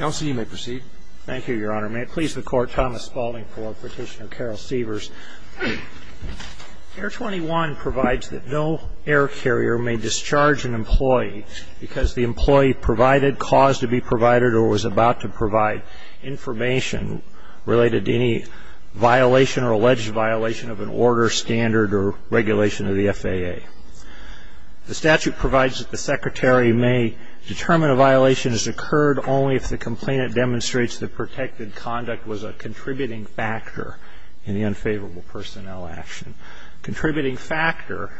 Air 21 provides that no air carrier may discharge an employee because the employee provided cause to be provided or was about to provide information related to any violation or alleged violation of an order, standard, or regulation of the FAA. The statute provides that the secretary may determine a violation has occurred only if the complainant demonstrates that protected conduct was a contributing factor in the unfavorable personnel action. Contributing factor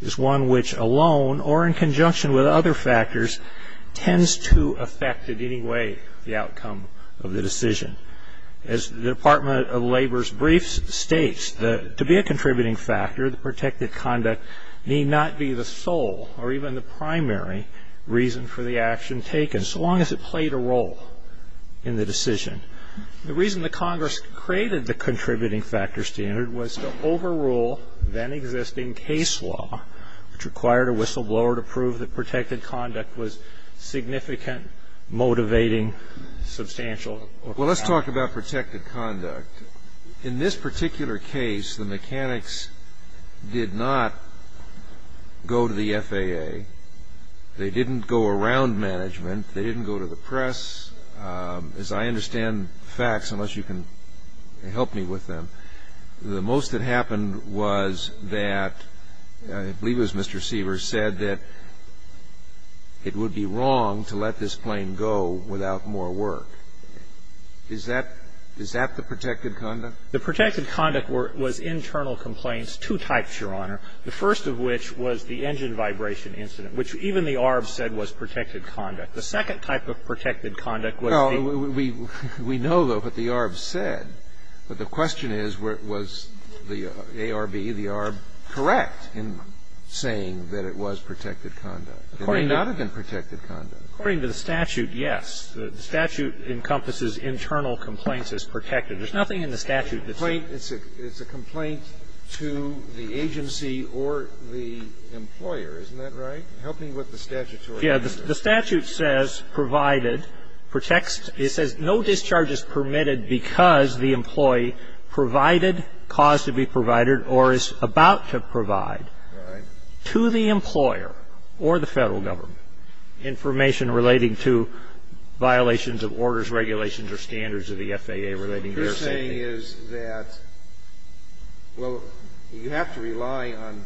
is one which alone or in conjunction with other factors tends to affect in any way the outcome of the decision. As the Department of Labor's brief states, to be a contributing factor, the protected conduct need not be the sole or even the primary reason for the action taken, so long as it played a role in the decision. The reason the Congress created the contributing factor standard was to overrule then existing case law, which required a whistleblower to prove that protected conduct was significant, motivating, substantial, or profound. Let's talk about protected conduct. In this particular case, the mechanics did not go to the FAA. They didn't go around management. They didn't go to the press. As I understand facts, unless you can help me with them, the most that happened was that I believe it was Mr. Sievers said that it would be wrong to let this plane go without more work. Is that the protected conduct? The protected conduct was internal complaints, two types, Your Honor, the first of which was the engine vibration incident, which even the ARB said was protected conduct. The second type of protected conduct was the --- Well, we know, though, what the ARB said, but the question is, was the ARB, the ARB correct in saying that it was protected conduct? It may not have been protected conduct. According to the statute, yes. The statute encompasses internal complaints as protected. There's nothing in the statute that's- It's a complaint to the agency or the employer, isn't that right? Help me with the statutory- Yes. The statute says provided, protects, it says no discharge is permitted because the employee provided, caused to be provided, or is about to provide- Right. To the employer or the Federal Government, information relating to violations of orders, regulations, or standards of the FAA relating to air safety. What you're saying is that, well, you have to rely on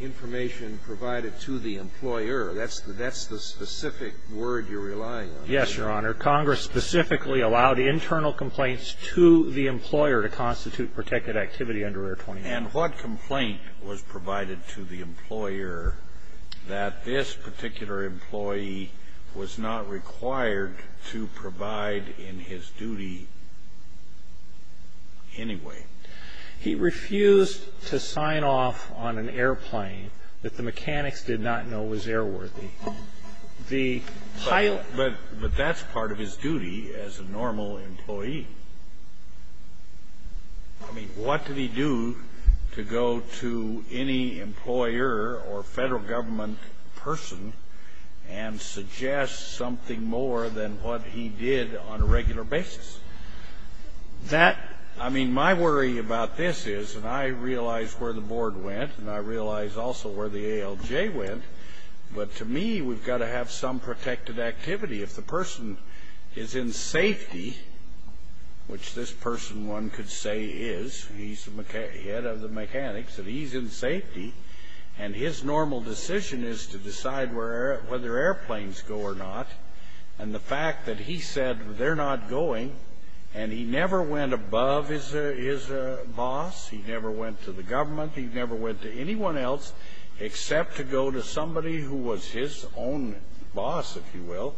information provided to the employer. That's the specific word you're relying on. Yes, Your Honor. Congress specifically allowed internal complaints to the employer to constitute protected activity under Air 21. And what complaint was provided to the employer that this particular employee was not required to provide in his duty anyway? He refused to sign off on an airplane that the mechanics did not know was airworthy. The pilot- But that's part of his duty as a normal employee. I mean, what did he do to go to any employer or Federal Government person and suggest something more than what he did on a regular basis? That, I mean, my worry about this is, and I realize where the board went, and I realize also where the ALJ went, but to me, we've got to have some protected activity. If the person is in safety, which this person one could say is, he's the head of the mechanics, and he's in safety, and his normal decision is to decide whether airplanes go or not, and the fact that he said they're not going, and he never went above his boss, he never went to the government, he never went to anyone else except to go to his own boss, if you will,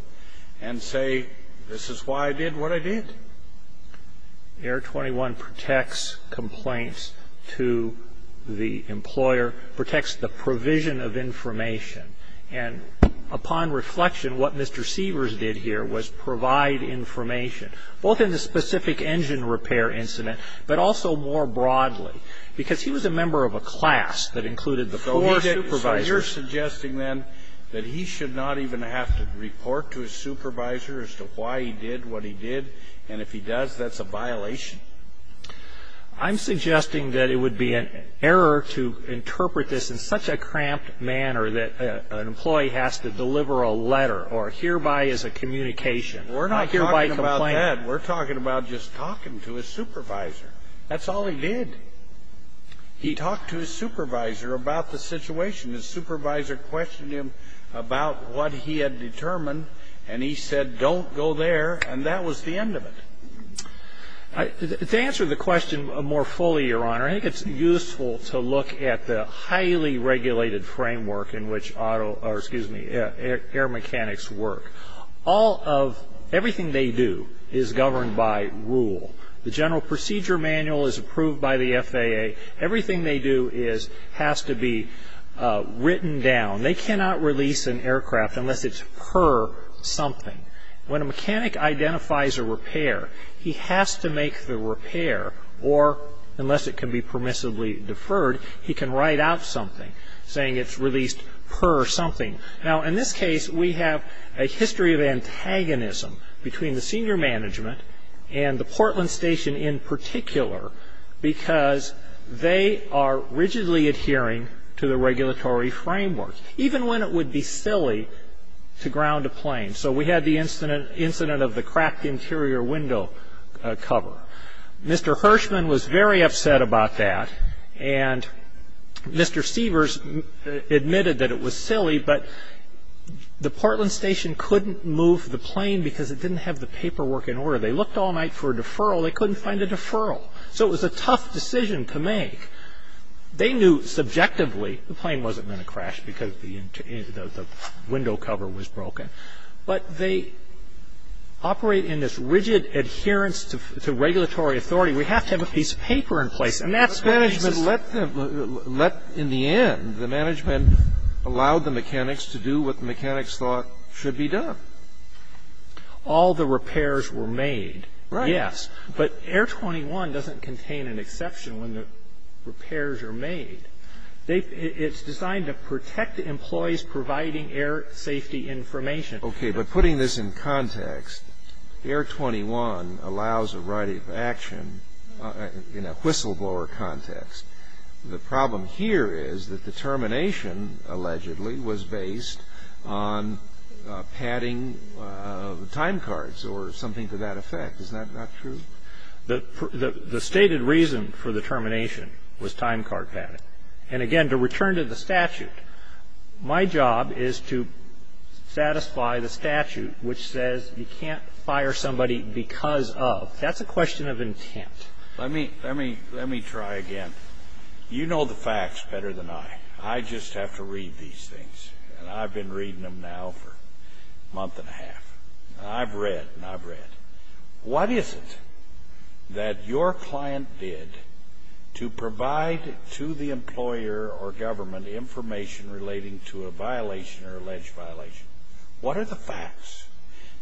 and say, this is why I did what I did. Air 21 protects complaints to the employer, protects the provision of information, and upon reflection, what Mr. Seavers did here was provide information, both in the specific engine repair incident, but also more broadly, because he was a member of a class that included the four supervisors. So you're suggesting, then, that he should not even have to report to his supervisor as to why he did what he did, and if he does, that's a violation? I'm suggesting that it would be an error to interpret this in such a cramped manner that an employee has to deliver a letter, or hereby is a communication. We're not talking about that. We're talking about just talking to his supervisor. That's all he did. He talked to his supervisor about the situation. His supervisor questioned him about what he had determined, and he said, don't go there, and that was the end of it. To answer the question more fully, Your Honor, I think it's useful to look at the highly regulated framework in which auto or, excuse me, air mechanics work. All of everything they do is governed by rule. The general procedure manual is approved by the FAA. Everything they do has to be written down. They cannot release an aircraft unless it's per something. When a mechanic identifies a repair, he has to make the repair, or unless it can be permissibly deferred, he can write out something saying it's released per something. Now, in this case, we have a history of antagonism between the senior management and the Portland Station in particular because they are rigidly adhering to the regulatory framework, even when it would be silly to ground a plane. So we had the incident of the cracked interior window cover. Mr. Hirschman was very upset about that, and Mr. Seavers admitted that it was silly, but the Portland Station couldn't move the plane because it didn't have the paperwork in order. They looked all night for a deferral. They couldn't find a deferral. So it was a tough decision to make. They knew subjectively the plane wasn't going to crash because the window cover was broken. But they operate in this rigid adherence to regulatory authority. We have to have a piece of paper in place, and that's what they said. The management let them, in the end, the management allowed the mechanics to do what the mechanics thought should be done. All the repairs were made, yes, but Air 21 doesn't contain an exception when the repairs are made. It's designed to protect the employees providing air safety information. Okay, but putting this in context, Air 21 allows a right of action in a whistleblower context. The problem here is that the termination, allegedly, was based on padding time cards or something to that effect. Is that not true? The stated reason for the termination was time card padding. And again, to return to the statute, my job is to satisfy the statute which says you can't That's a question of intent. Let me try again. You know the facts better than I. I just have to read these things, and I've been reading them now for a month and a half. I've read, and I've read. What is it that your client did to provide to the employer or government information relating to a violation or alleged violation? What are the facts?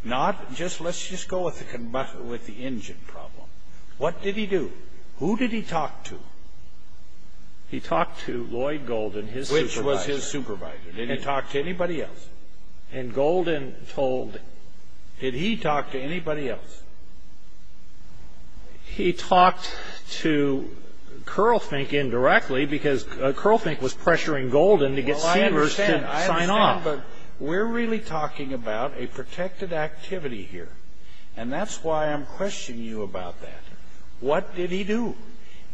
Not just, let's just go with the engine problem. What did he do? Who did he talk to? He talked to Lloyd Golden, his supervisor. Which was his supervisor? Did he talk to anybody else? And Golden told. Did he talk to anybody else? He talked to CurlFink indirectly because CurlFink was pressuring Golden to get Sanders to sign off. I understand, but we're really talking about a protected activity here. And that's why I'm questioning you about that. What did he do?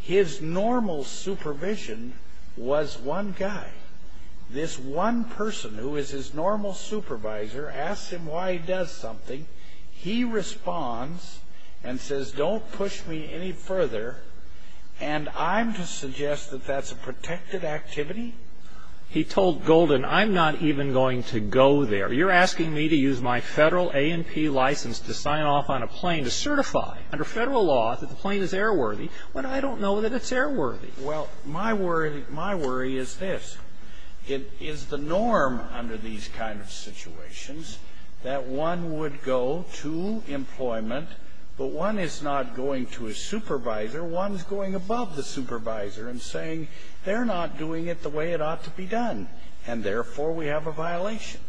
His normal supervision was one guy. This one person, who is his normal supervisor, asks him why he does something. He responds and says, don't push me any further. And I'm to suggest that that's a protected activity? He told Golden, I'm not even going to go there. You're asking me to use my Federal A&P license to sign off on a plane to certify, under Federal law, that the plane is airworthy, when I don't know that it's airworthy. Well, my worry is this. It is the norm under these kind of situations that one would go to employment. But one is not going to a supervisor. One is going above the supervisor and saying, they're not doing it the way it ought to be done. And therefore, we have a violation.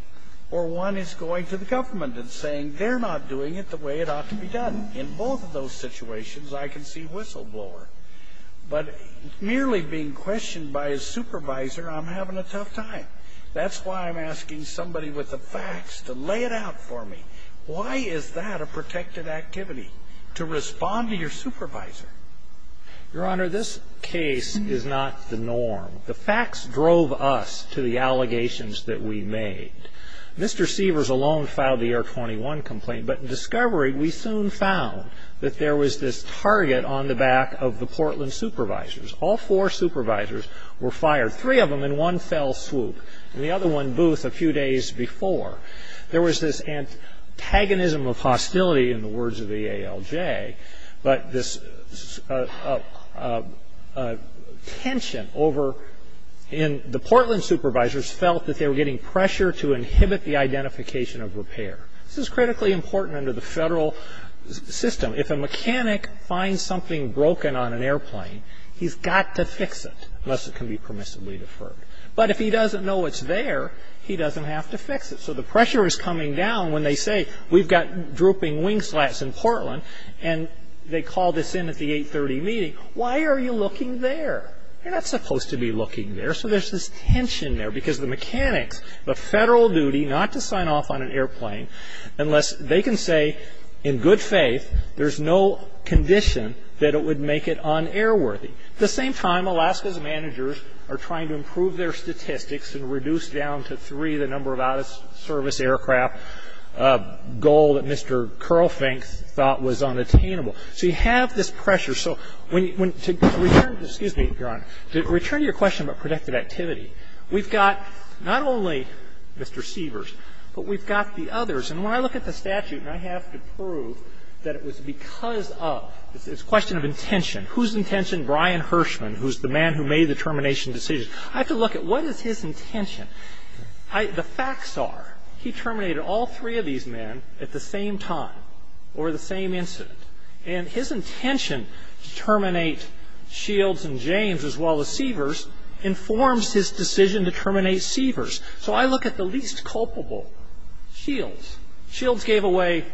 Or one is going to the government and saying, they're not doing it the way it ought to be done. In both of those situations, I can see whistleblower. But merely being questioned by a supervisor, I'm having a tough time. That's why I'm asking somebody with the facts to lay it out for me. Why is that a protected activity? To respond to your supervisor. Your Honor, this case is not the norm. The facts drove us to the allegations that we made. Mr. Seavers alone filed the Air 21 complaint. But in discovery, we soon found that there was this target on the back of the Portland supervisors. All four supervisors were fired, three of them in one fell swoop. And the other one boothed a few days before. There was this antagonism of hostility, in the words of the ALJ. But this tension over in the Portland supervisors felt that they were getting pressure to inhibit the identification of repair. This is critically important under the federal system. If a mechanic finds something broken on an airplane, he's got to fix it, unless it can be permissibly deferred. But if he doesn't know it's there, he doesn't have to fix it. So the pressure is coming down when they say, we've got drooping wing slats in Portland. And they call this in at the 830 meeting. Why are you looking there? You're not supposed to be looking there. So there's this tension there. Because the mechanics have a federal duty not to sign off on an airplane unless they can say, in good faith, there's no condition that it would make it un-airworthy. At the same time, Alaska's managers are trying to improve their statistics and reduce down to three the number of out-of-service aircraft. A goal that Mr. Kerlfink thought was unattainable. So you have this pressure. So when you go to return to your question about protective activity, we've got not only Mr. Sievers, but we've got the others. And when I look at the statute, and I have to prove that it was because of, it's a question of intention. Whose intention? Brian Hirschman, who's the man who made the termination decision. I have to look at what is his intention. The facts are, he terminated all three of these men at the same time, over the same incident. And his intention to terminate Shields and James, as well as Sievers, informs his decision to terminate Sievers. So I look at the least culpable, Shields. Shields gave away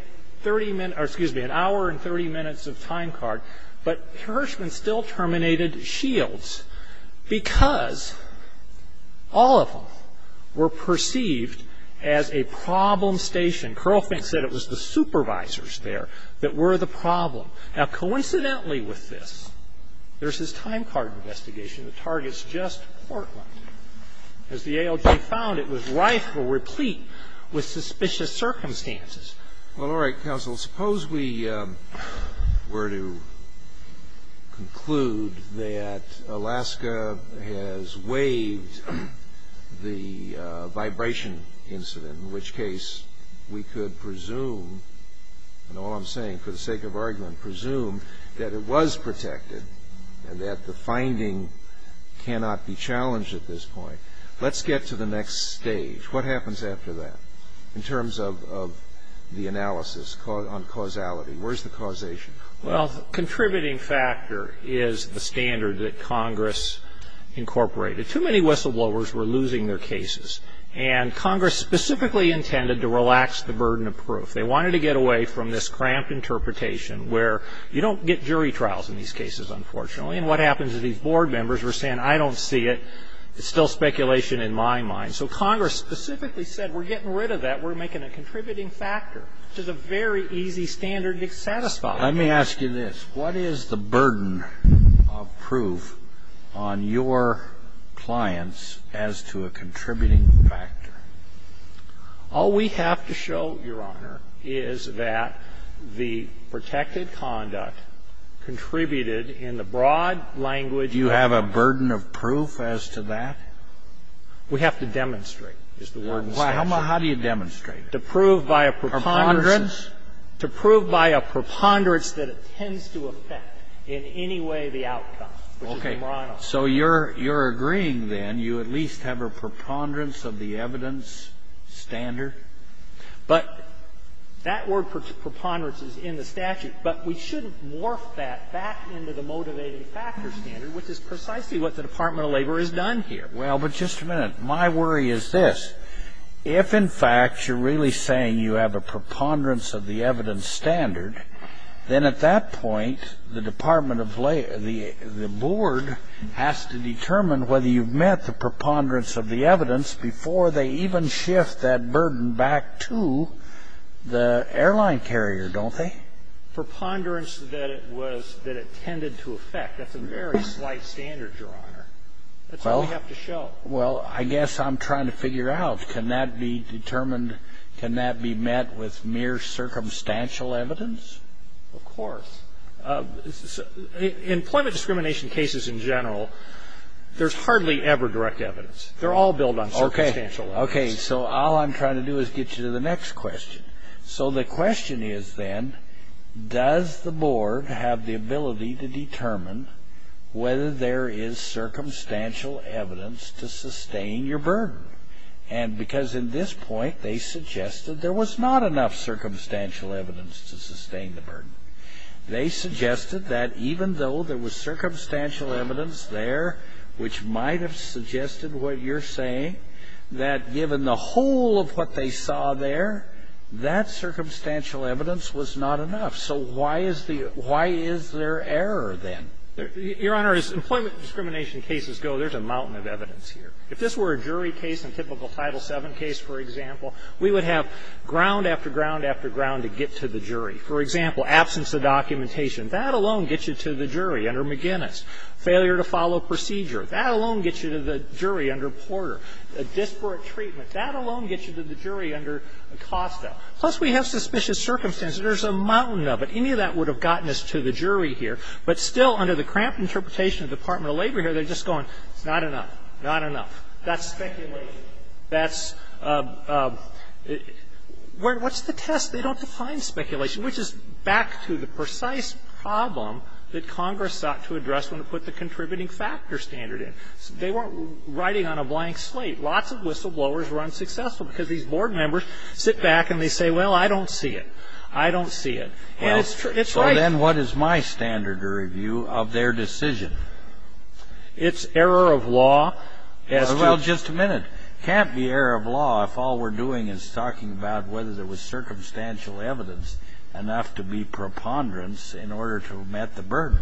an hour and 30 minutes of time card, but Hirschman still terminated Shields. Because all of them were perceived as a problem station. Kerlfink said it was the supervisors there that were the problem. Now coincidentally with this, there's this time card investigation that targets just Portland. As the ALJ found, it was rife or replete with suspicious circumstances. Well, all right, counsel. Suppose we were to conclude that Alaska has waived the vibration incident. In which case, we could presume, and all I'm saying for the sake of argument, presume that it was protected and that the finding cannot be challenged at this point. Let's get to the next stage. What happens after that? In terms of the analysis on causality, where's the causation? Well, contributing factor is the standard that Congress incorporated. Too many whistleblowers were losing their cases. And Congress specifically intended to relax the burden of proof. They wanted to get away from this cramped interpretation where you don't get jury trials in these cases, unfortunately. And what happens is these board members were saying, I don't see it. It's still speculation in my mind. So Congress specifically said, we're getting rid of that. We're making a contributing factor, which is a very easy standard to satisfy. Let me ask you this. What is the burden of proof on your clients as to a contributing factor? All we have to show, Your Honor, is that the protected conduct contributed in the broad language you have a burden of proof as to that? We have to demonstrate is the word in statute. Well, how do you demonstrate it? To prove by a preponderance. To prove by a preponderance that it tends to affect in any way the outcome, which is the moral. Okay. So you're agreeing, then, you at least have a preponderance of the evidence standard? But that word, preponderance, is in the statute. But we should morph that back into the motivating factor standard, which is precisely what the Department of Labor has done here. Well, but just a minute. My worry is this. If, in fact, you're really saying you have a preponderance of the evidence standard, then at that point, the Department of Labor, the board has to determine whether you've met the preponderance of the evidence before they even shift that burden back to the airline carrier, don't they? Preponderance that it was, that it tended to affect. That's a very slight standard, Your Honor. That's all we have to show. Well, I guess I'm trying to figure out, can that be determined, can that be met with mere circumstantial evidence? Of course. Employment discrimination cases in general, there's hardly ever direct evidence. They're all built on circumstantial evidence. Okay, so all I'm trying to do is get you to the next question. Whether there is circumstantial evidence to sustain your burden. And because in this point, they suggested there was not enough circumstantial evidence to sustain the burden. They suggested that even though there was circumstantial evidence there, which might have suggested what you're saying, that given the whole of what they saw there, that circumstantial evidence was not enough. So why is the why is there error then? Your Honor, as employment discrimination cases go, there's a mountain of evidence here. If this were a jury case, a typical Title VII case, for example, we would have ground after ground after ground to get to the jury. For example, absence of documentation, that alone gets you to the jury under McGinnis. Failure to follow procedure, that alone gets you to the jury under Porter. A disparate treatment, that alone gets you to the jury under Acosta. Plus, we have suspicious circumstances. There's a mountain of it. Any of that would have gotten us to the jury here. But still, under the cramped interpretation of the Department of Labor here, they're just going, it's not enough, not enough. That's speculation. That's what's the test? They don't define speculation, which is back to the precise problem that Congress sought to address when it put the contributing factor standard in. They weren't writing on a blank slate. Lots of whistleblowers were unsuccessful because these board members sit back and they say, well, I don't see it. I don't see it. And it's right. Well, so then what is my standard of review of their decision? It's error of law as to... Well, just a minute. It can't be error of law if all we're doing is talking about whether there was circumstantial evidence enough to be preponderance in order to have met the burden.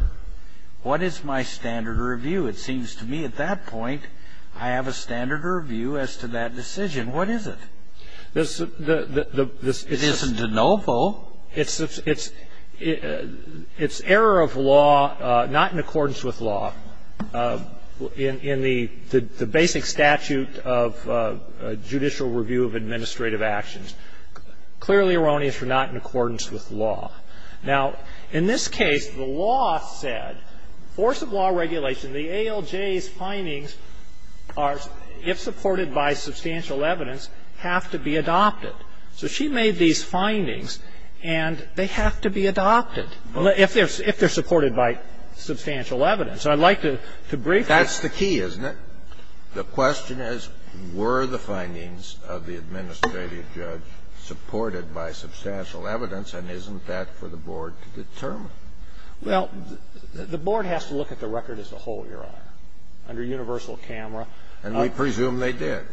What is my standard of review? It seems to me at that point I have a standard of review as to that decision. What is it? It isn't de novo. It's error of law not in accordance with law in the basic statute of judicial review of administrative actions. Clearly erroneous for not in accordance with law. Now, in this case, the law said, force of law regulation, the ALJ's findings are, if supported by substantial evidence, have to be adopted. So she made these findings and they have to be adopted if they're supported by substantial evidence. And I'd like to briefly... That's the key, isn't it? The question is, were the findings of the administrative judge supported by substantial evidence, and isn't that for the Board to determine? Well, the Board has to look at the record as a whole, Your Honor, under universal camera. And we presume they did.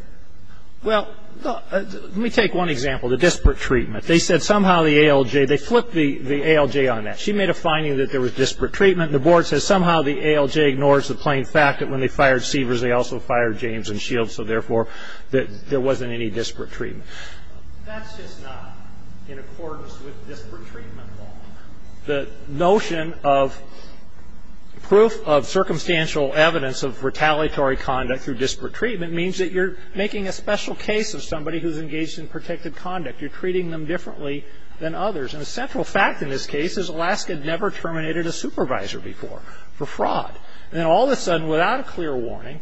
Well, let me take one example, the disparate treatment. They said somehow the ALJ, they flipped the ALJ on that. She made a finding that there was disparate treatment. The Board says somehow the ALJ ignores the plain fact that when they fired Seavers, they also fired James and Shields, so therefore there wasn't any disparate treatment. That's just not in accordance with disparate treatment law. The notion of proof of circumstantial evidence of retaliatory conduct through disparate treatment means that you're making a special case of somebody who's engaged in protected conduct. You're treating them differently than others. And a central fact in this case is Alaska never terminated a supervisor before for fraud. And all of a sudden, without a clear warning,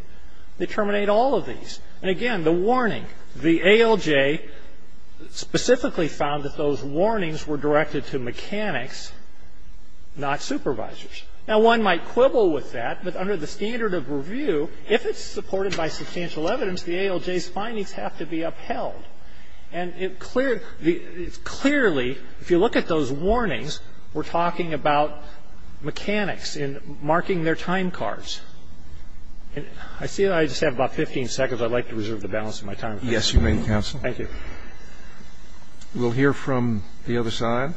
they terminate all of these. And again, the warning, the ALJ specifically found that those warnings were directed to mechanics, not supervisors. Now, one might quibble with that, but under the standard of review, if it's supported by substantial evidence, the ALJ's findings have to be upheld. And it's clearly, if you look at those warnings, we're talking about mechanics and marking their time cards. I see I just have about 15 seconds. I'd like to reserve the balance of my time. Yes, you may, counsel. Thank you. We'll hear from the other side.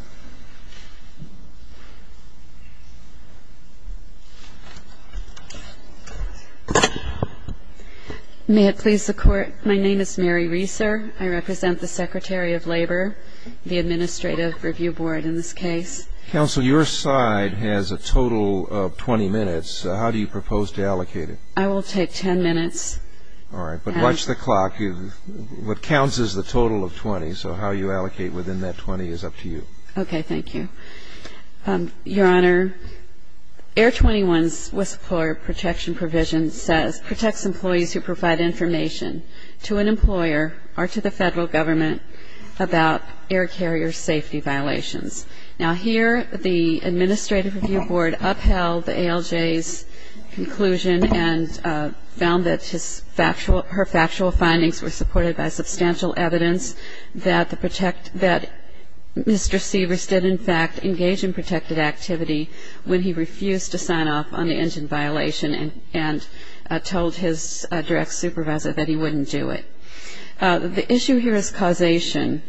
May it please the Court, my name is Mary Reser. I represent the Secretary of Labor, the Administrative Review Board in this case. Counsel, your side has a total of 20 minutes. How do you propose to allocate it? I will take 10 minutes. All right, but watch the clock. What counts is the total of 20, so how you allocate within that 20 is up to you. Okay, thank you. Your Honor, Air 21's whistleblower protection provision says, protects employees who provide information to an employer or to the federal government about air carrier safety violations. Now, here, the Administrative Review Board upheld the ALJ's conclusion and found that her factual findings were supported by substantial evidence that Mr. Seavers did, in fact, engage in protected activity when he refused to sign off on the engine violation and told his direct supervisor that he wouldn't do it. The issue here is causation.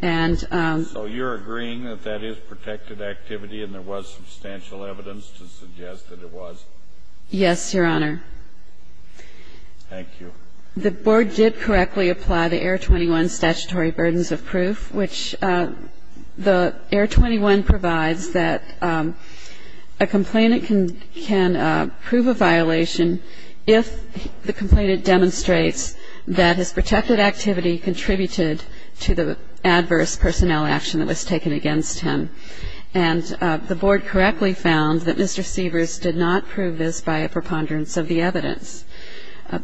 So you're agreeing that that is protected activity and there was substantial evidence to suggest that it was? Yes, Your Honor. Thank you. The Board did correctly apply the Air 21 statutory burdens of proof, which the Air 21 provides that a complainant can prove a violation if the complainant demonstrates that his protected activity contributed to the adverse personnel action that was taken against him, and the Board correctly found that Mr. Seavers did not prove this by a preponderance of the evidence.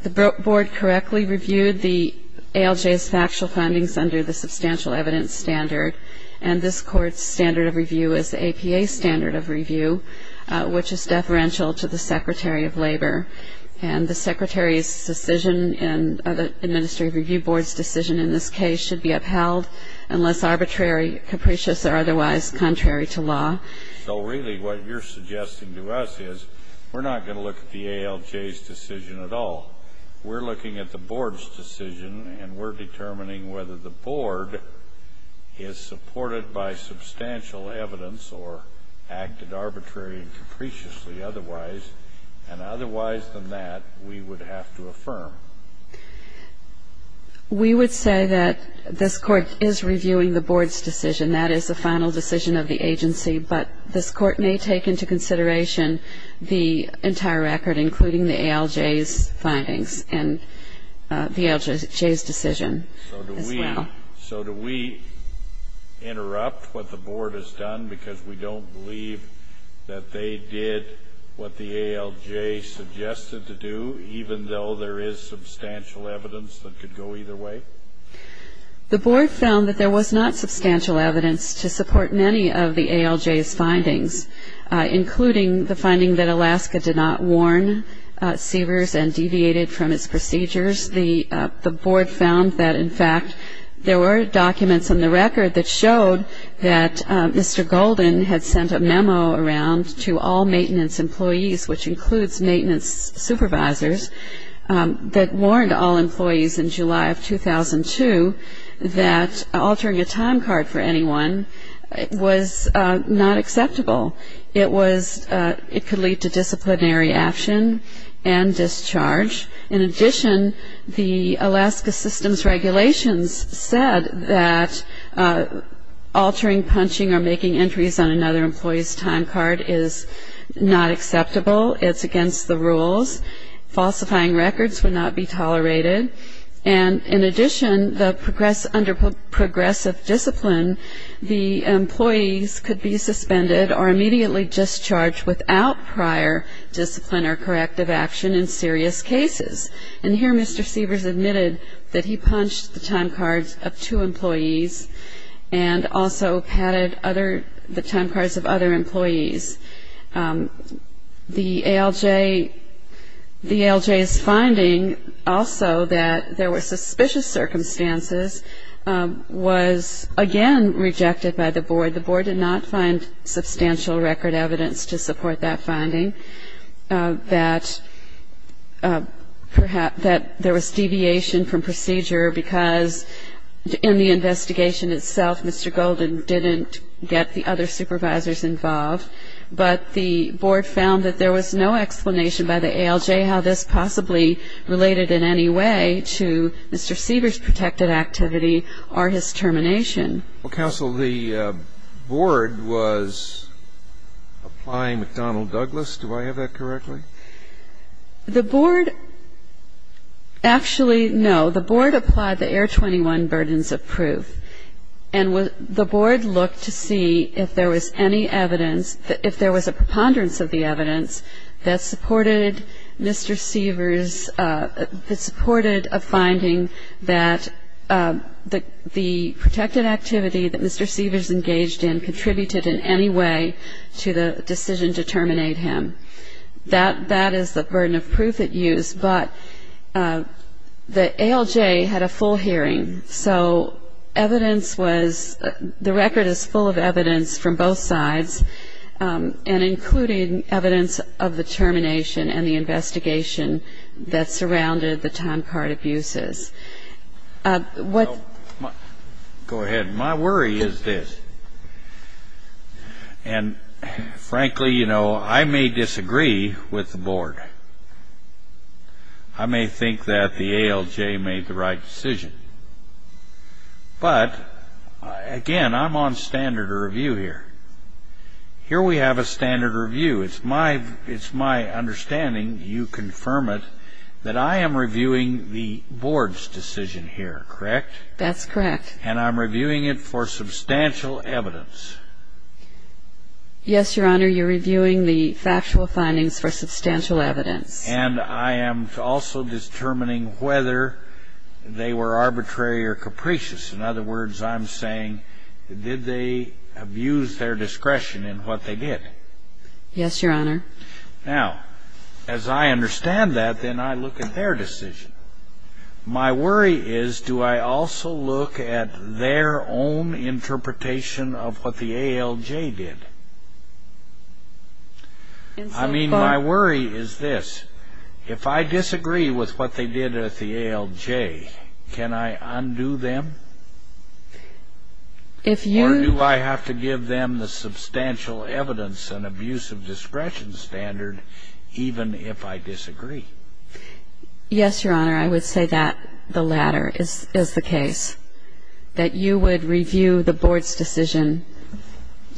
The Board correctly reviewed the ALJ's factual findings under the substantial evidence standard, and this Court's standard of review is the APA standard of review, which is deferential to the Secretary of Labor. And the Secretary's decision and the Administrative Review Board's decision in this case should be upheld unless arbitrary, capricious, or otherwise contrary to law. So really what you're suggesting to us is we're not going to look at the ALJ's decision at all. We're looking at the Board's decision, and we're determining whether the Board is supported by substantial evidence or acted arbitrarily and capriciously otherwise. And otherwise than that, we would have to affirm. We would say that this Court is reviewing the Board's decision. That is the final decision of the agency, but this Court may take into consideration the entire record, including the ALJ's findings and the ALJ's decision as well. So do we interrupt what the Board has done because we don't believe that they did what the ALJ suggested to do even though there is substantial evidence that could go either way? The Board found that there was not substantial evidence to support many of the ALJ's findings, including the finding that Alaska did not warn Seavers and deviated from its procedures. The Board found that, in fact, there were documents in the record that showed that Mr. Golden had sent a memo around to all maintenance employees, which includes maintenance supervisors, that warned all employees in July of 2002 that altering a time card for anyone was not acceptable. It could lead to disciplinary action and discharge. In addition, the Alaska system's regulations said that altering, punching, or making entries on another employee's time card is not acceptable. It's against the rules. Falsifying records would not be tolerated. And in addition, under progressive discipline, the employees could be suspended or immediately discharged without prior discipline or corrective action in serious cases. And here Mr. Seavers admitted that he punched the time cards of two employees and also patted the time cards of other employees. The ALJ's finding also that there were suspicious circumstances was again rejected by the Board. The Board did not find substantial record evidence to support that finding, that there was deviation from procedure because in the investigation itself, Mr. Golden didn't get the other supervisors involved. But the Board found that there was no explanation by the ALJ how this possibly related in any way to Mr. Seavers' protected activity or his termination. Well, counsel, the Board was applying McDonnell-Douglas. Do I have that correctly? The Board actually, no. The Board applied the Air 21 burdens of proof. And the Board looked to see if there was any evidence, if there was a preponderance of the evidence that supported Mr. Seavers, that supported a finding that the protected activity that Mr. Seavers engaged in contributed in any way to the decision to terminate him. That is the burden of proof it used, but the ALJ had a full hearing. So evidence was, the record is full of evidence from both sides and including evidence of the termination and the investigation that surrounded the time card abuses. What Go ahead. My worry is this. And frankly, you know, I may disagree with the Board. I may think that the ALJ made the right decision. But again, I'm on standard review here. Here we have a standard review. It's my understanding, you confirm it, that I am reviewing the Board's decision here, correct? That's correct. And I'm reviewing it for substantial evidence? Yes, Your Honor, you're reviewing the factual findings for substantial evidence. And I am also determining whether they were arbitrary or capricious. In other words, I'm saying, did they abuse their discretion in what they did? Yes, Your Honor. Now, as I understand that, then I look at their decision. My worry is, do I also look at their own interpretation of what the ALJ did? I mean, my worry is this. If I disagree with what they did at the ALJ, can I undo them? Or do I have to give them the substantial evidence and abuse of discretion standard even if I disagree? Yes, Your Honor, I would say that the latter is the case. That you would review the Board's decision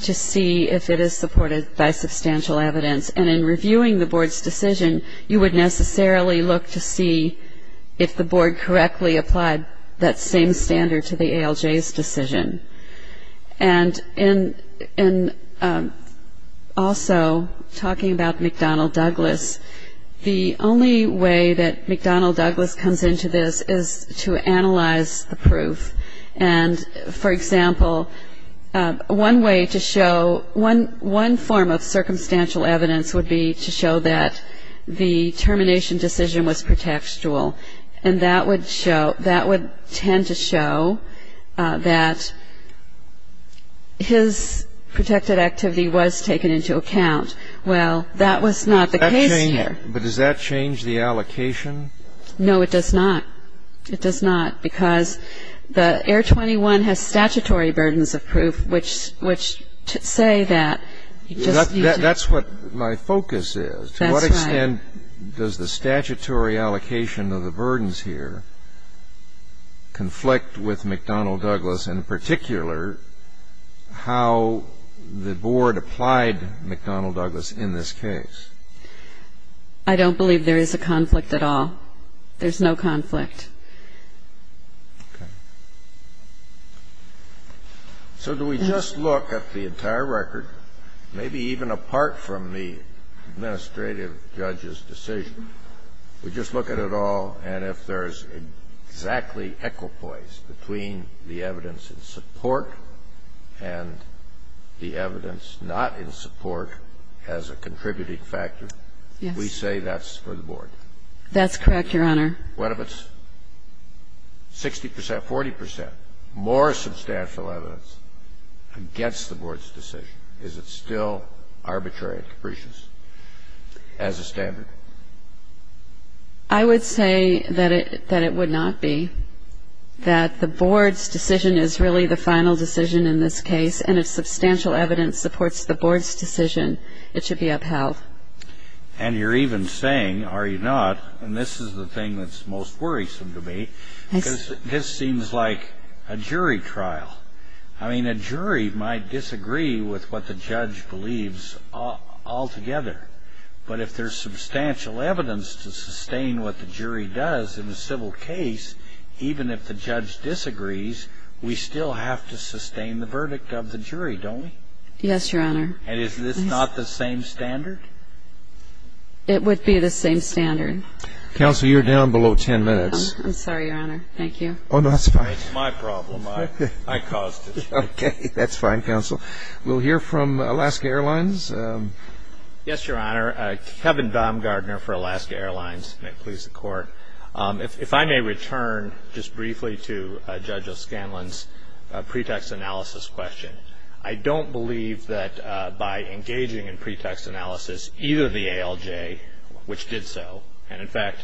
to see if it is supported by substantial evidence. And in reviewing the Board's decision, you would necessarily look to see if the Board correctly applied that same standard to the ALJ's decision. And in also talking about McDonnell-Douglas, the only way that McDonnell-Douglas comes into this is to analyze the proof. And for example, one way to show, one form of circumstantial evidence would be to show that the termination decision was pretextual. And that would show, that would tend to show that his protected activity was taken into account. Well, that was not the case here. But does that change the allocation? No, it does not. It does not. Because the Air 21 has statutory burdens of proof, which say that you just need to. And that's what my focus is. That's right. To what extent does the statutory allocation of the burdens here conflict with McDonnell-Douglas, and in particular, how the Board applied McDonnell-Douglas in this case? I don't believe there is a conflict at all. There's no conflict. Okay. So do we just look at the entire record, maybe even apart from the administrative judge's decision, we just look at it all, and if there's exactly equipoise between the evidence in support and the evidence not in support as a contributing factor, we say that's for the Board? That's correct, Your Honor. What if it's 60 percent, 40 percent more substantial evidence against the Board's decision? Is it still arbitrary and capricious as a standard? I would say that it would not be. That the Board's decision is really the final decision in this case, and if substantial evidence supports the Board's decision, it should be upheld. And you're even saying, are you not, and this is the thing that's most worrisome to me, because this seems like a jury trial. I mean, a jury might disagree with what the judge believes altogether, but if there's substantial evidence to sustain what the jury does in a civil case, even if the judge disagrees, we still have to sustain the verdict of the jury, don't we? Yes, Your Honor. And is this not the same standard? It would be the same standard. Counsel, you're down below 10 minutes. I'm sorry, Your Honor. Thank you. Oh, no, that's fine. It's my problem. I caused it. Okay, that's fine, Counsel. We'll hear from Alaska Airlines. Yes, Your Honor. Kevin Baumgardner for Alaska Airlines. May it please the Court. If I may return just briefly to Judge O'Scanlan's pretext analysis question. I don't believe that by engaging in pretext analysis, either the ALJ, which did so, and in fact,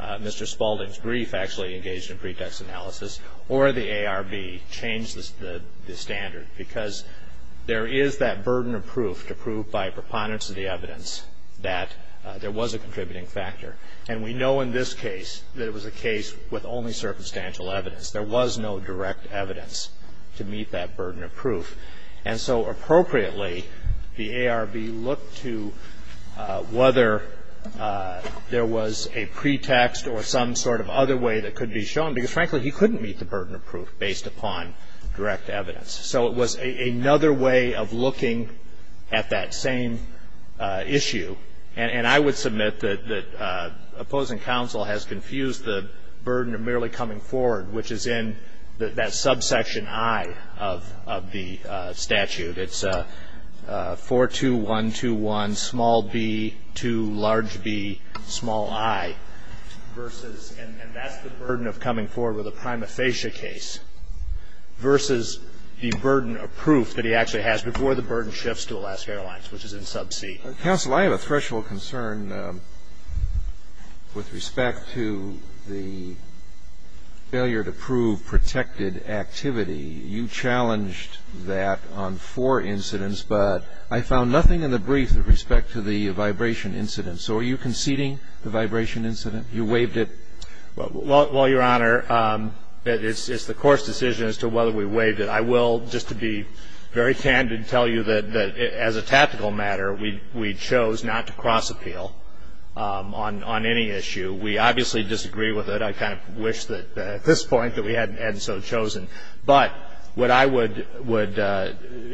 Mr. Spalding's brief actually engaged in pretext analysis, or the ARB changed the standard, because there is that burden of proof to prove by preponderance of the evidence that there was a contributing factor. And we know in this case that it was a case with only circumstantial evidence. There was no direct evidence to meet that burden of proof. And so appropriately, the ARB looked to whether there was a pretext or some sort of other way that could be shown, because frankly, he couldn't meet the burden of proof based upon direct evidence. So it was another way of looking at that same issue. And I would submit that opposing counsel has confused the burden of merely coming forward, which is in that subsection I of the statute. It's 42121 b 2b i, and that's the burden of coming forward with a prima facie case, versus the burden of proof that he actually has before the burden shifts to Alaska Airlines, which is in sub C. Counsel, I have a threshold concern with respect to the failure to prove protected activity. You challenged that on four incidents, but I found nothing in the brief with respect to the vibration incident. So are you conceding the vibration incident? You waived it? Well, Your Honor, it's the court's decision as to whether we waived it. I will, just to be very candid, tell you that as a tactical matter, we chose not to cross appeal on any issue. We obviously disagree with it. I kind of wish that at this point that we hadn't so chosen. But what I would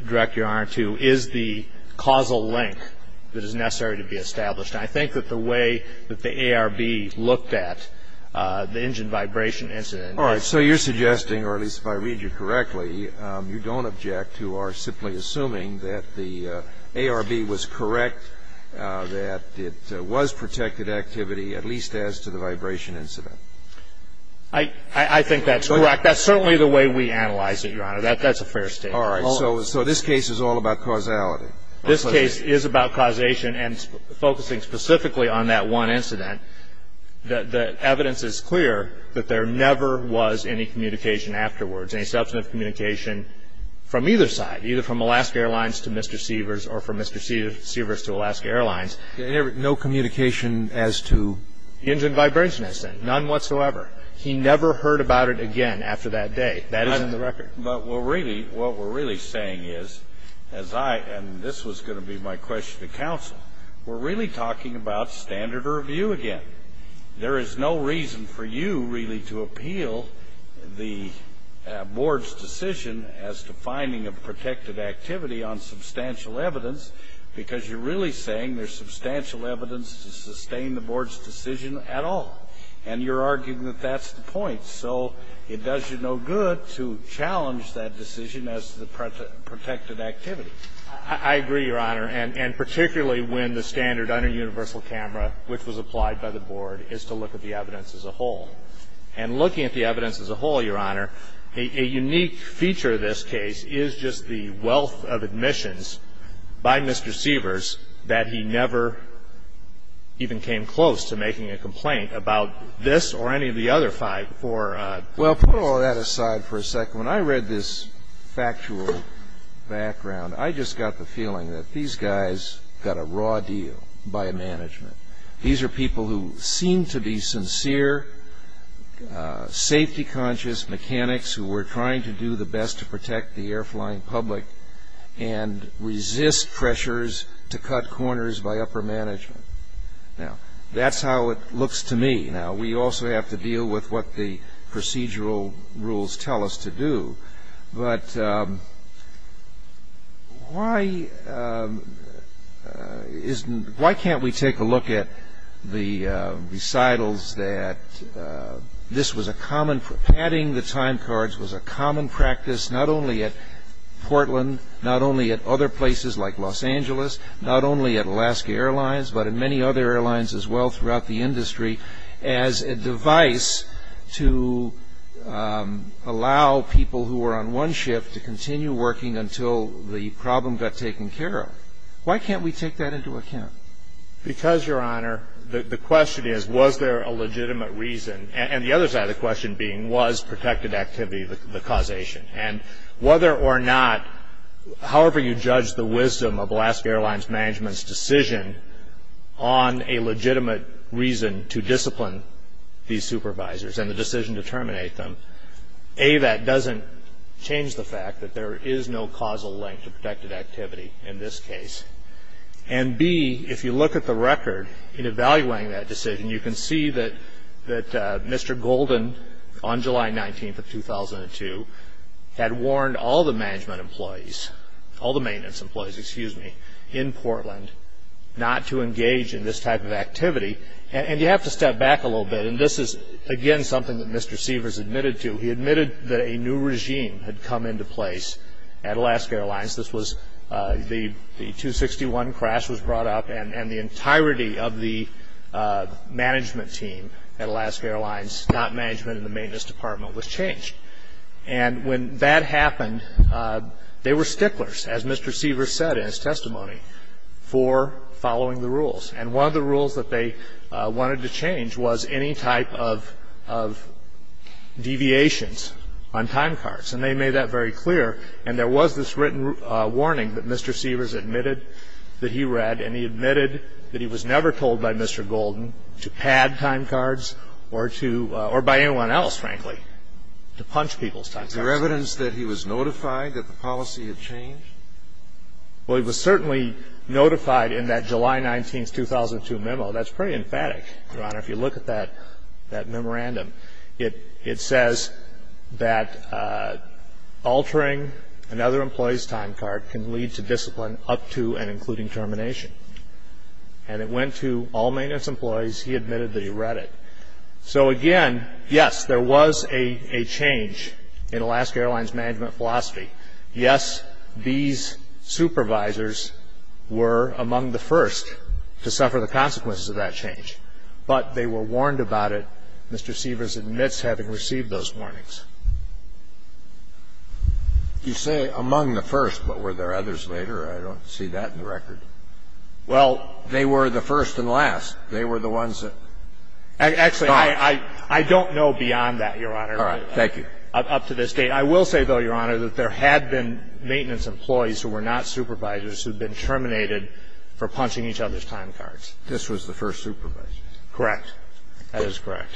direct Your Honor to is the causal link that is necessary to be established. I think that the way that the ARB looked at the engine vibration incident. All right. So you're suggesting, or at least if I read you correctly, you don't object to our simply assuming that the ARB was correct, that it was protected activity, at least as to the vibration incident. I think that's correct. That's certainly the way we analyze it, Your Honor. That's a fair statement. All right. So this case is all about causality. This case is about causation and focusing specifically on that one incident. The evidence is clear that there never was any communication afterwards, any substantive communication from either side, either from Alaska Airlines to Mr. Seavers or from Mr. Seavers to Alaska Airlines. No communication as to? Engine vibration incident, none whatsoever. He never heard about it again after that day. That is in the record. But what we're really saying is, and this was going to be my question to counsel, we're really talking about standard review again. There is no reason for you really to appeal the board's decision as to finding a protected activity on substantial evidence, because you're really saying there's substantial evidence to sustain the board's decision at all. And you're arguing that that's the point. So it does you no good to challenge that decision as the protected activity. I agree, Your Honor. And particularly when the standard under universal camera, which was applied by the board, is to look at the evidence as a whole. And looking at the evidence as a whole, Your Honor, a unique feature of this case is just the wealth of admissions by Mr. Seavers that he never even came close to making a complaint about this or any of the other five or four. Well, put all that aside for a second. When I read this factual background, I just got the feeling that these guys got a raw deal by management. These are people who seem to be sincere, safety conscious mechanics who were trying to do the best to protect the air flying public and resist pressures to cut corners by upper management. Now, that's how it looks to me. Now, we also have to deal with what the procedural rules tell us to do. But why can't we take a look at the recitals that this was a common for adding the time cards was a common practice, not only at Portland, not only at other places like Los Angeles, not only at Alaska Airlines, but in many other airlines as well throughout the industry as a device to allow people who are on one shift to continue working until the problem got taken care of. Why can't we take that into account? Because, Your Honor, the question is, was there a legitimate reason? And the other side of the question being was protected activity the causation? And whether or not however you judge the wisdom of Alaska Airlines management's decision on a legitimate reason to discipline these supervisors and the decision to terminate them, A, that doesn't change the fact that there is no causal link to protected activity in this case. And B, if you look at the record in evaluating that decision, you can see that Mr. Golden on July 19th of 2002 had warned all the management employees, all the not to engage in this type of activity. And you have to step back a little bit. And this is, again, something that Mr. Seavers admitted to. He admitted that a new regime had come into place at Alaska Airlines. This was the 261 crash was brought up and the entirety of the management team at Alaska Airlines, not management in the maintenance department, was changed. And when that happened, they were sticklers, as Mr. Seavers said in his testimony, for following the rules. And one of the rules that they wanted to change was any type of deviations on time cards. And they made that very clear. And there was this written warning that Mr. Seavers admitted that he read. And he admitted that he was never told by Mr. Seavers to punch people's time cards. Is there evidence that he was notified that the policy had changed? Well, he was certainly notified in that July 19th, 2002 memo. That's pretty emphatic, Your Honor. If you look at that memorandum, it says that altering another employee's time card can lead to discipline up to and including termination. And it went to all maintenance employees. He admitted that he read it. So again, yes, there was a change in Alaska Airlines' management philosophy. Yes, these supervisors were among the first to suffer the consequences of that change. But they were warned about it, Mr. Seavers admits, having received those warnings. You say among the first, but were there others later? I don't see that in the record. Well, they were the first and last. They were the ones that stopped. Actually, I don't know beyond that, Your Honor, up to this date. I will say, though, Your Honor, that there had been maintenance employees who were not supervisors who'd been terminated for punching each other's time cards. This was the first supervisor. Correct. That is correct.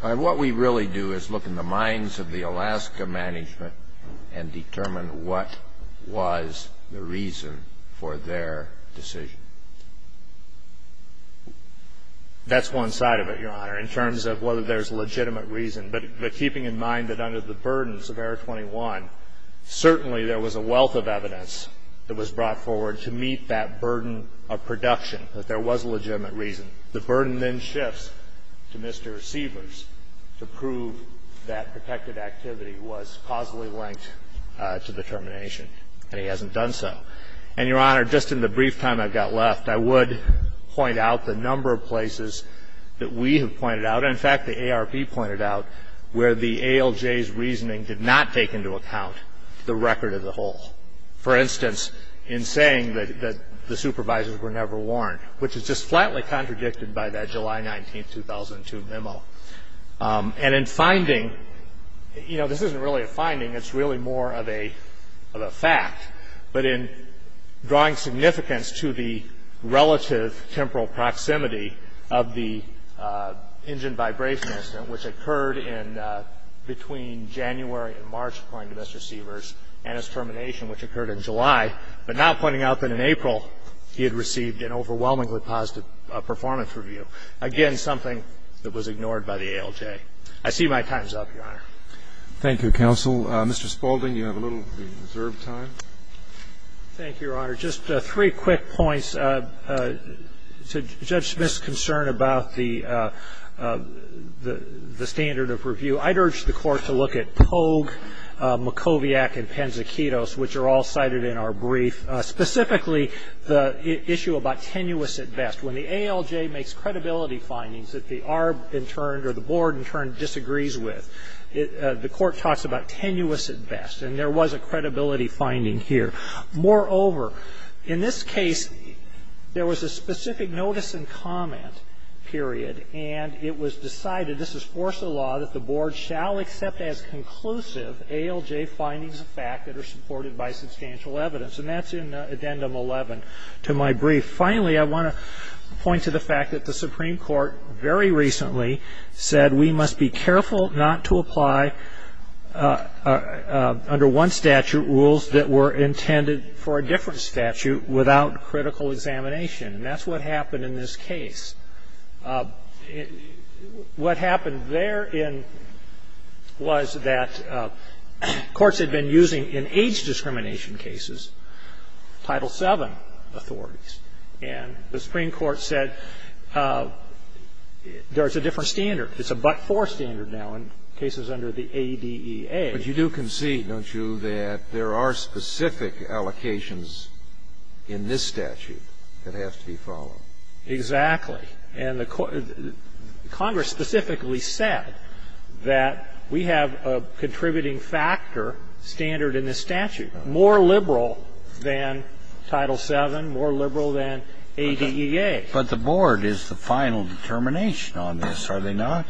What we really do is look in the minds of the Alaska management and determine what was the reason for their decision. That's one side of it, Your Honor, in terms of whether there's legitimate reason. But keeping in mind that under the burdens of error 21, certainly there was a wealth of evidence that was brought forward to meet that burden of production, that there was a legitimate reason. The burden then shifts to Mr. Seavers to prove that protected activity was causally linked to the termination, and he hasn't done so. And, Your Honor, just in the brief time I've got left, I would point out the number of places that we have pointed out, and in fact, the ARP pointed out, where the ALJ's reasoning did not take into account the record of the whole. For instance, in saying that the supervisors were never warned, which is just flatly contradicted by that July 19, 2002 memo. And in finding, you know, this isn't really a finding. It's really more of a fact. But in drawing significance to the relative temporal proximity of the engine vibration incident, which occurred in between January and March, according to Mr. Seavers, and its termination, which occurred in July, but not pointing out that in April he had received an overwhelmingly positive performance review, again, something that was ignored by the ALJ. I see my time's up, Your Honor. Thank you, counsel. Mr. Spaulding, you have a little reserved time. Thank you, Your Honor. Just three quick points to Judge Smith's concern about the standard of review. I'd urge the Court to look at Pogue, Mokowiak, and Penzikidos, which are all cited in our brief, specifically the issue about tenuous at best. When the ALJ makes credibility findings that the ARP, in turn, or the board, in turn, disagrees with, the Court talks about tenuous at best. And there was a credibility finding here. Moreover, in this case, there was a specific notice and comment period. And it was decided, this is force of the law, that the board shall accept as conclusive ALJ findings of fact that are supported by substantial evidence. And that's in Addendum 11 to my brief. Finally, I want to point to the fact that the Supreme Court, very recently, said we must be careful not to apply, under one statute, rules that were intended for a different statute without critical examination. And that's what happened in this case. What happened therein was that courts had been using, in age discrimination cases, Title VII authorities. And the Supreme Court said there's a different standard. It's a but-for standard now in cases under the ADEA. But you do concede, don't you, that there are specific allocations in this statute that have to be followed? Exactly. And the Congress specifically said that we have a contributing factor standard in this statute, more liberal than Title VII, more liberal than ADEA. But the board is the final determination on this, are they not?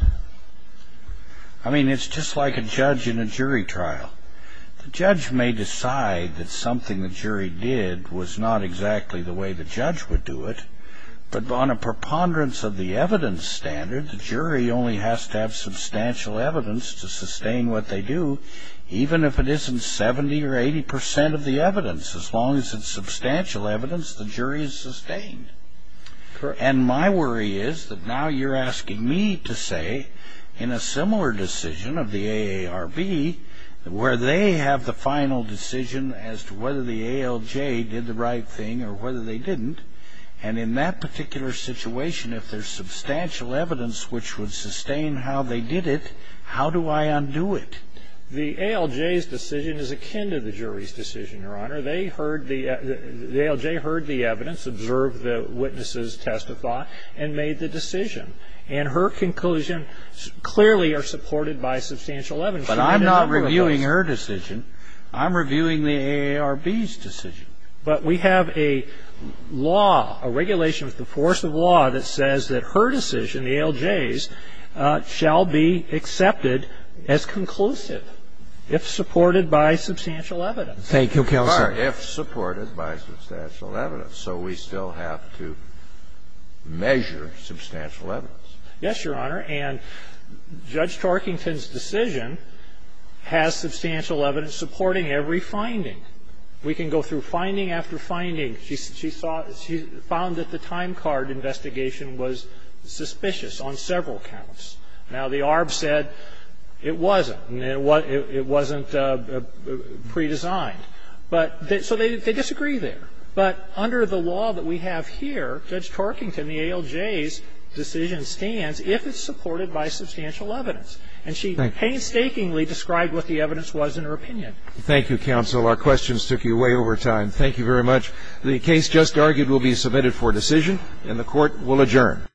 I mean, it's just like a judge in a jury trial. The judge may decide that something the jury did was not exactly the way the judge would do it. But on a preponderance of the evidence standard, the jury only has to have substantial evidence to sustain what they do, even if it isn't 70% or 80% of the evidence. As long as it's substantial evidence, the jury is sustained. And my worry is that now you're asking me to say, in a similar decision of the AARB, where they have the final decision as to whether the ALJ did the right thing or whether they didn't. And in that particular situation, if there's substantial evidence which would How do I undo it? The ALJ's decision is akin to the jury's decision, Your Honor. The ALJ heard the evidence, observed the witnesses testify, and made the decision. And her conclusions clearly are supported by substantial evidence. But I'm not reviewing her decision. I'm reviewing the AARB's decision. But we have a law, a regulation of the force of law, that says that her decision, the ALJ's, shall be accepted as conclusive if supported by substantial evidence. Thank you, Counsel. If supported by substantial evidence. So we still have to measure substantial evidence. Yes, Your Honor. And Judge Tarkington's decision has substantial evidence supporting every finding. We can go through finding after finding. She found that the time card investigation was suspicious on several counts. Now, the AARB said it wasn't. It wasn't predesigned. But so they disagree there. But under the law that we have here, Judge Tarkington, the ALJ's decision stands if it's supported by substantial evidence. And she painstakingly described what the evidence was in her opinion. Thank you, Counsel. Our questions took you way over time. Thank you very much. The case just argued will be submitted for decision, and the Court will adjourn.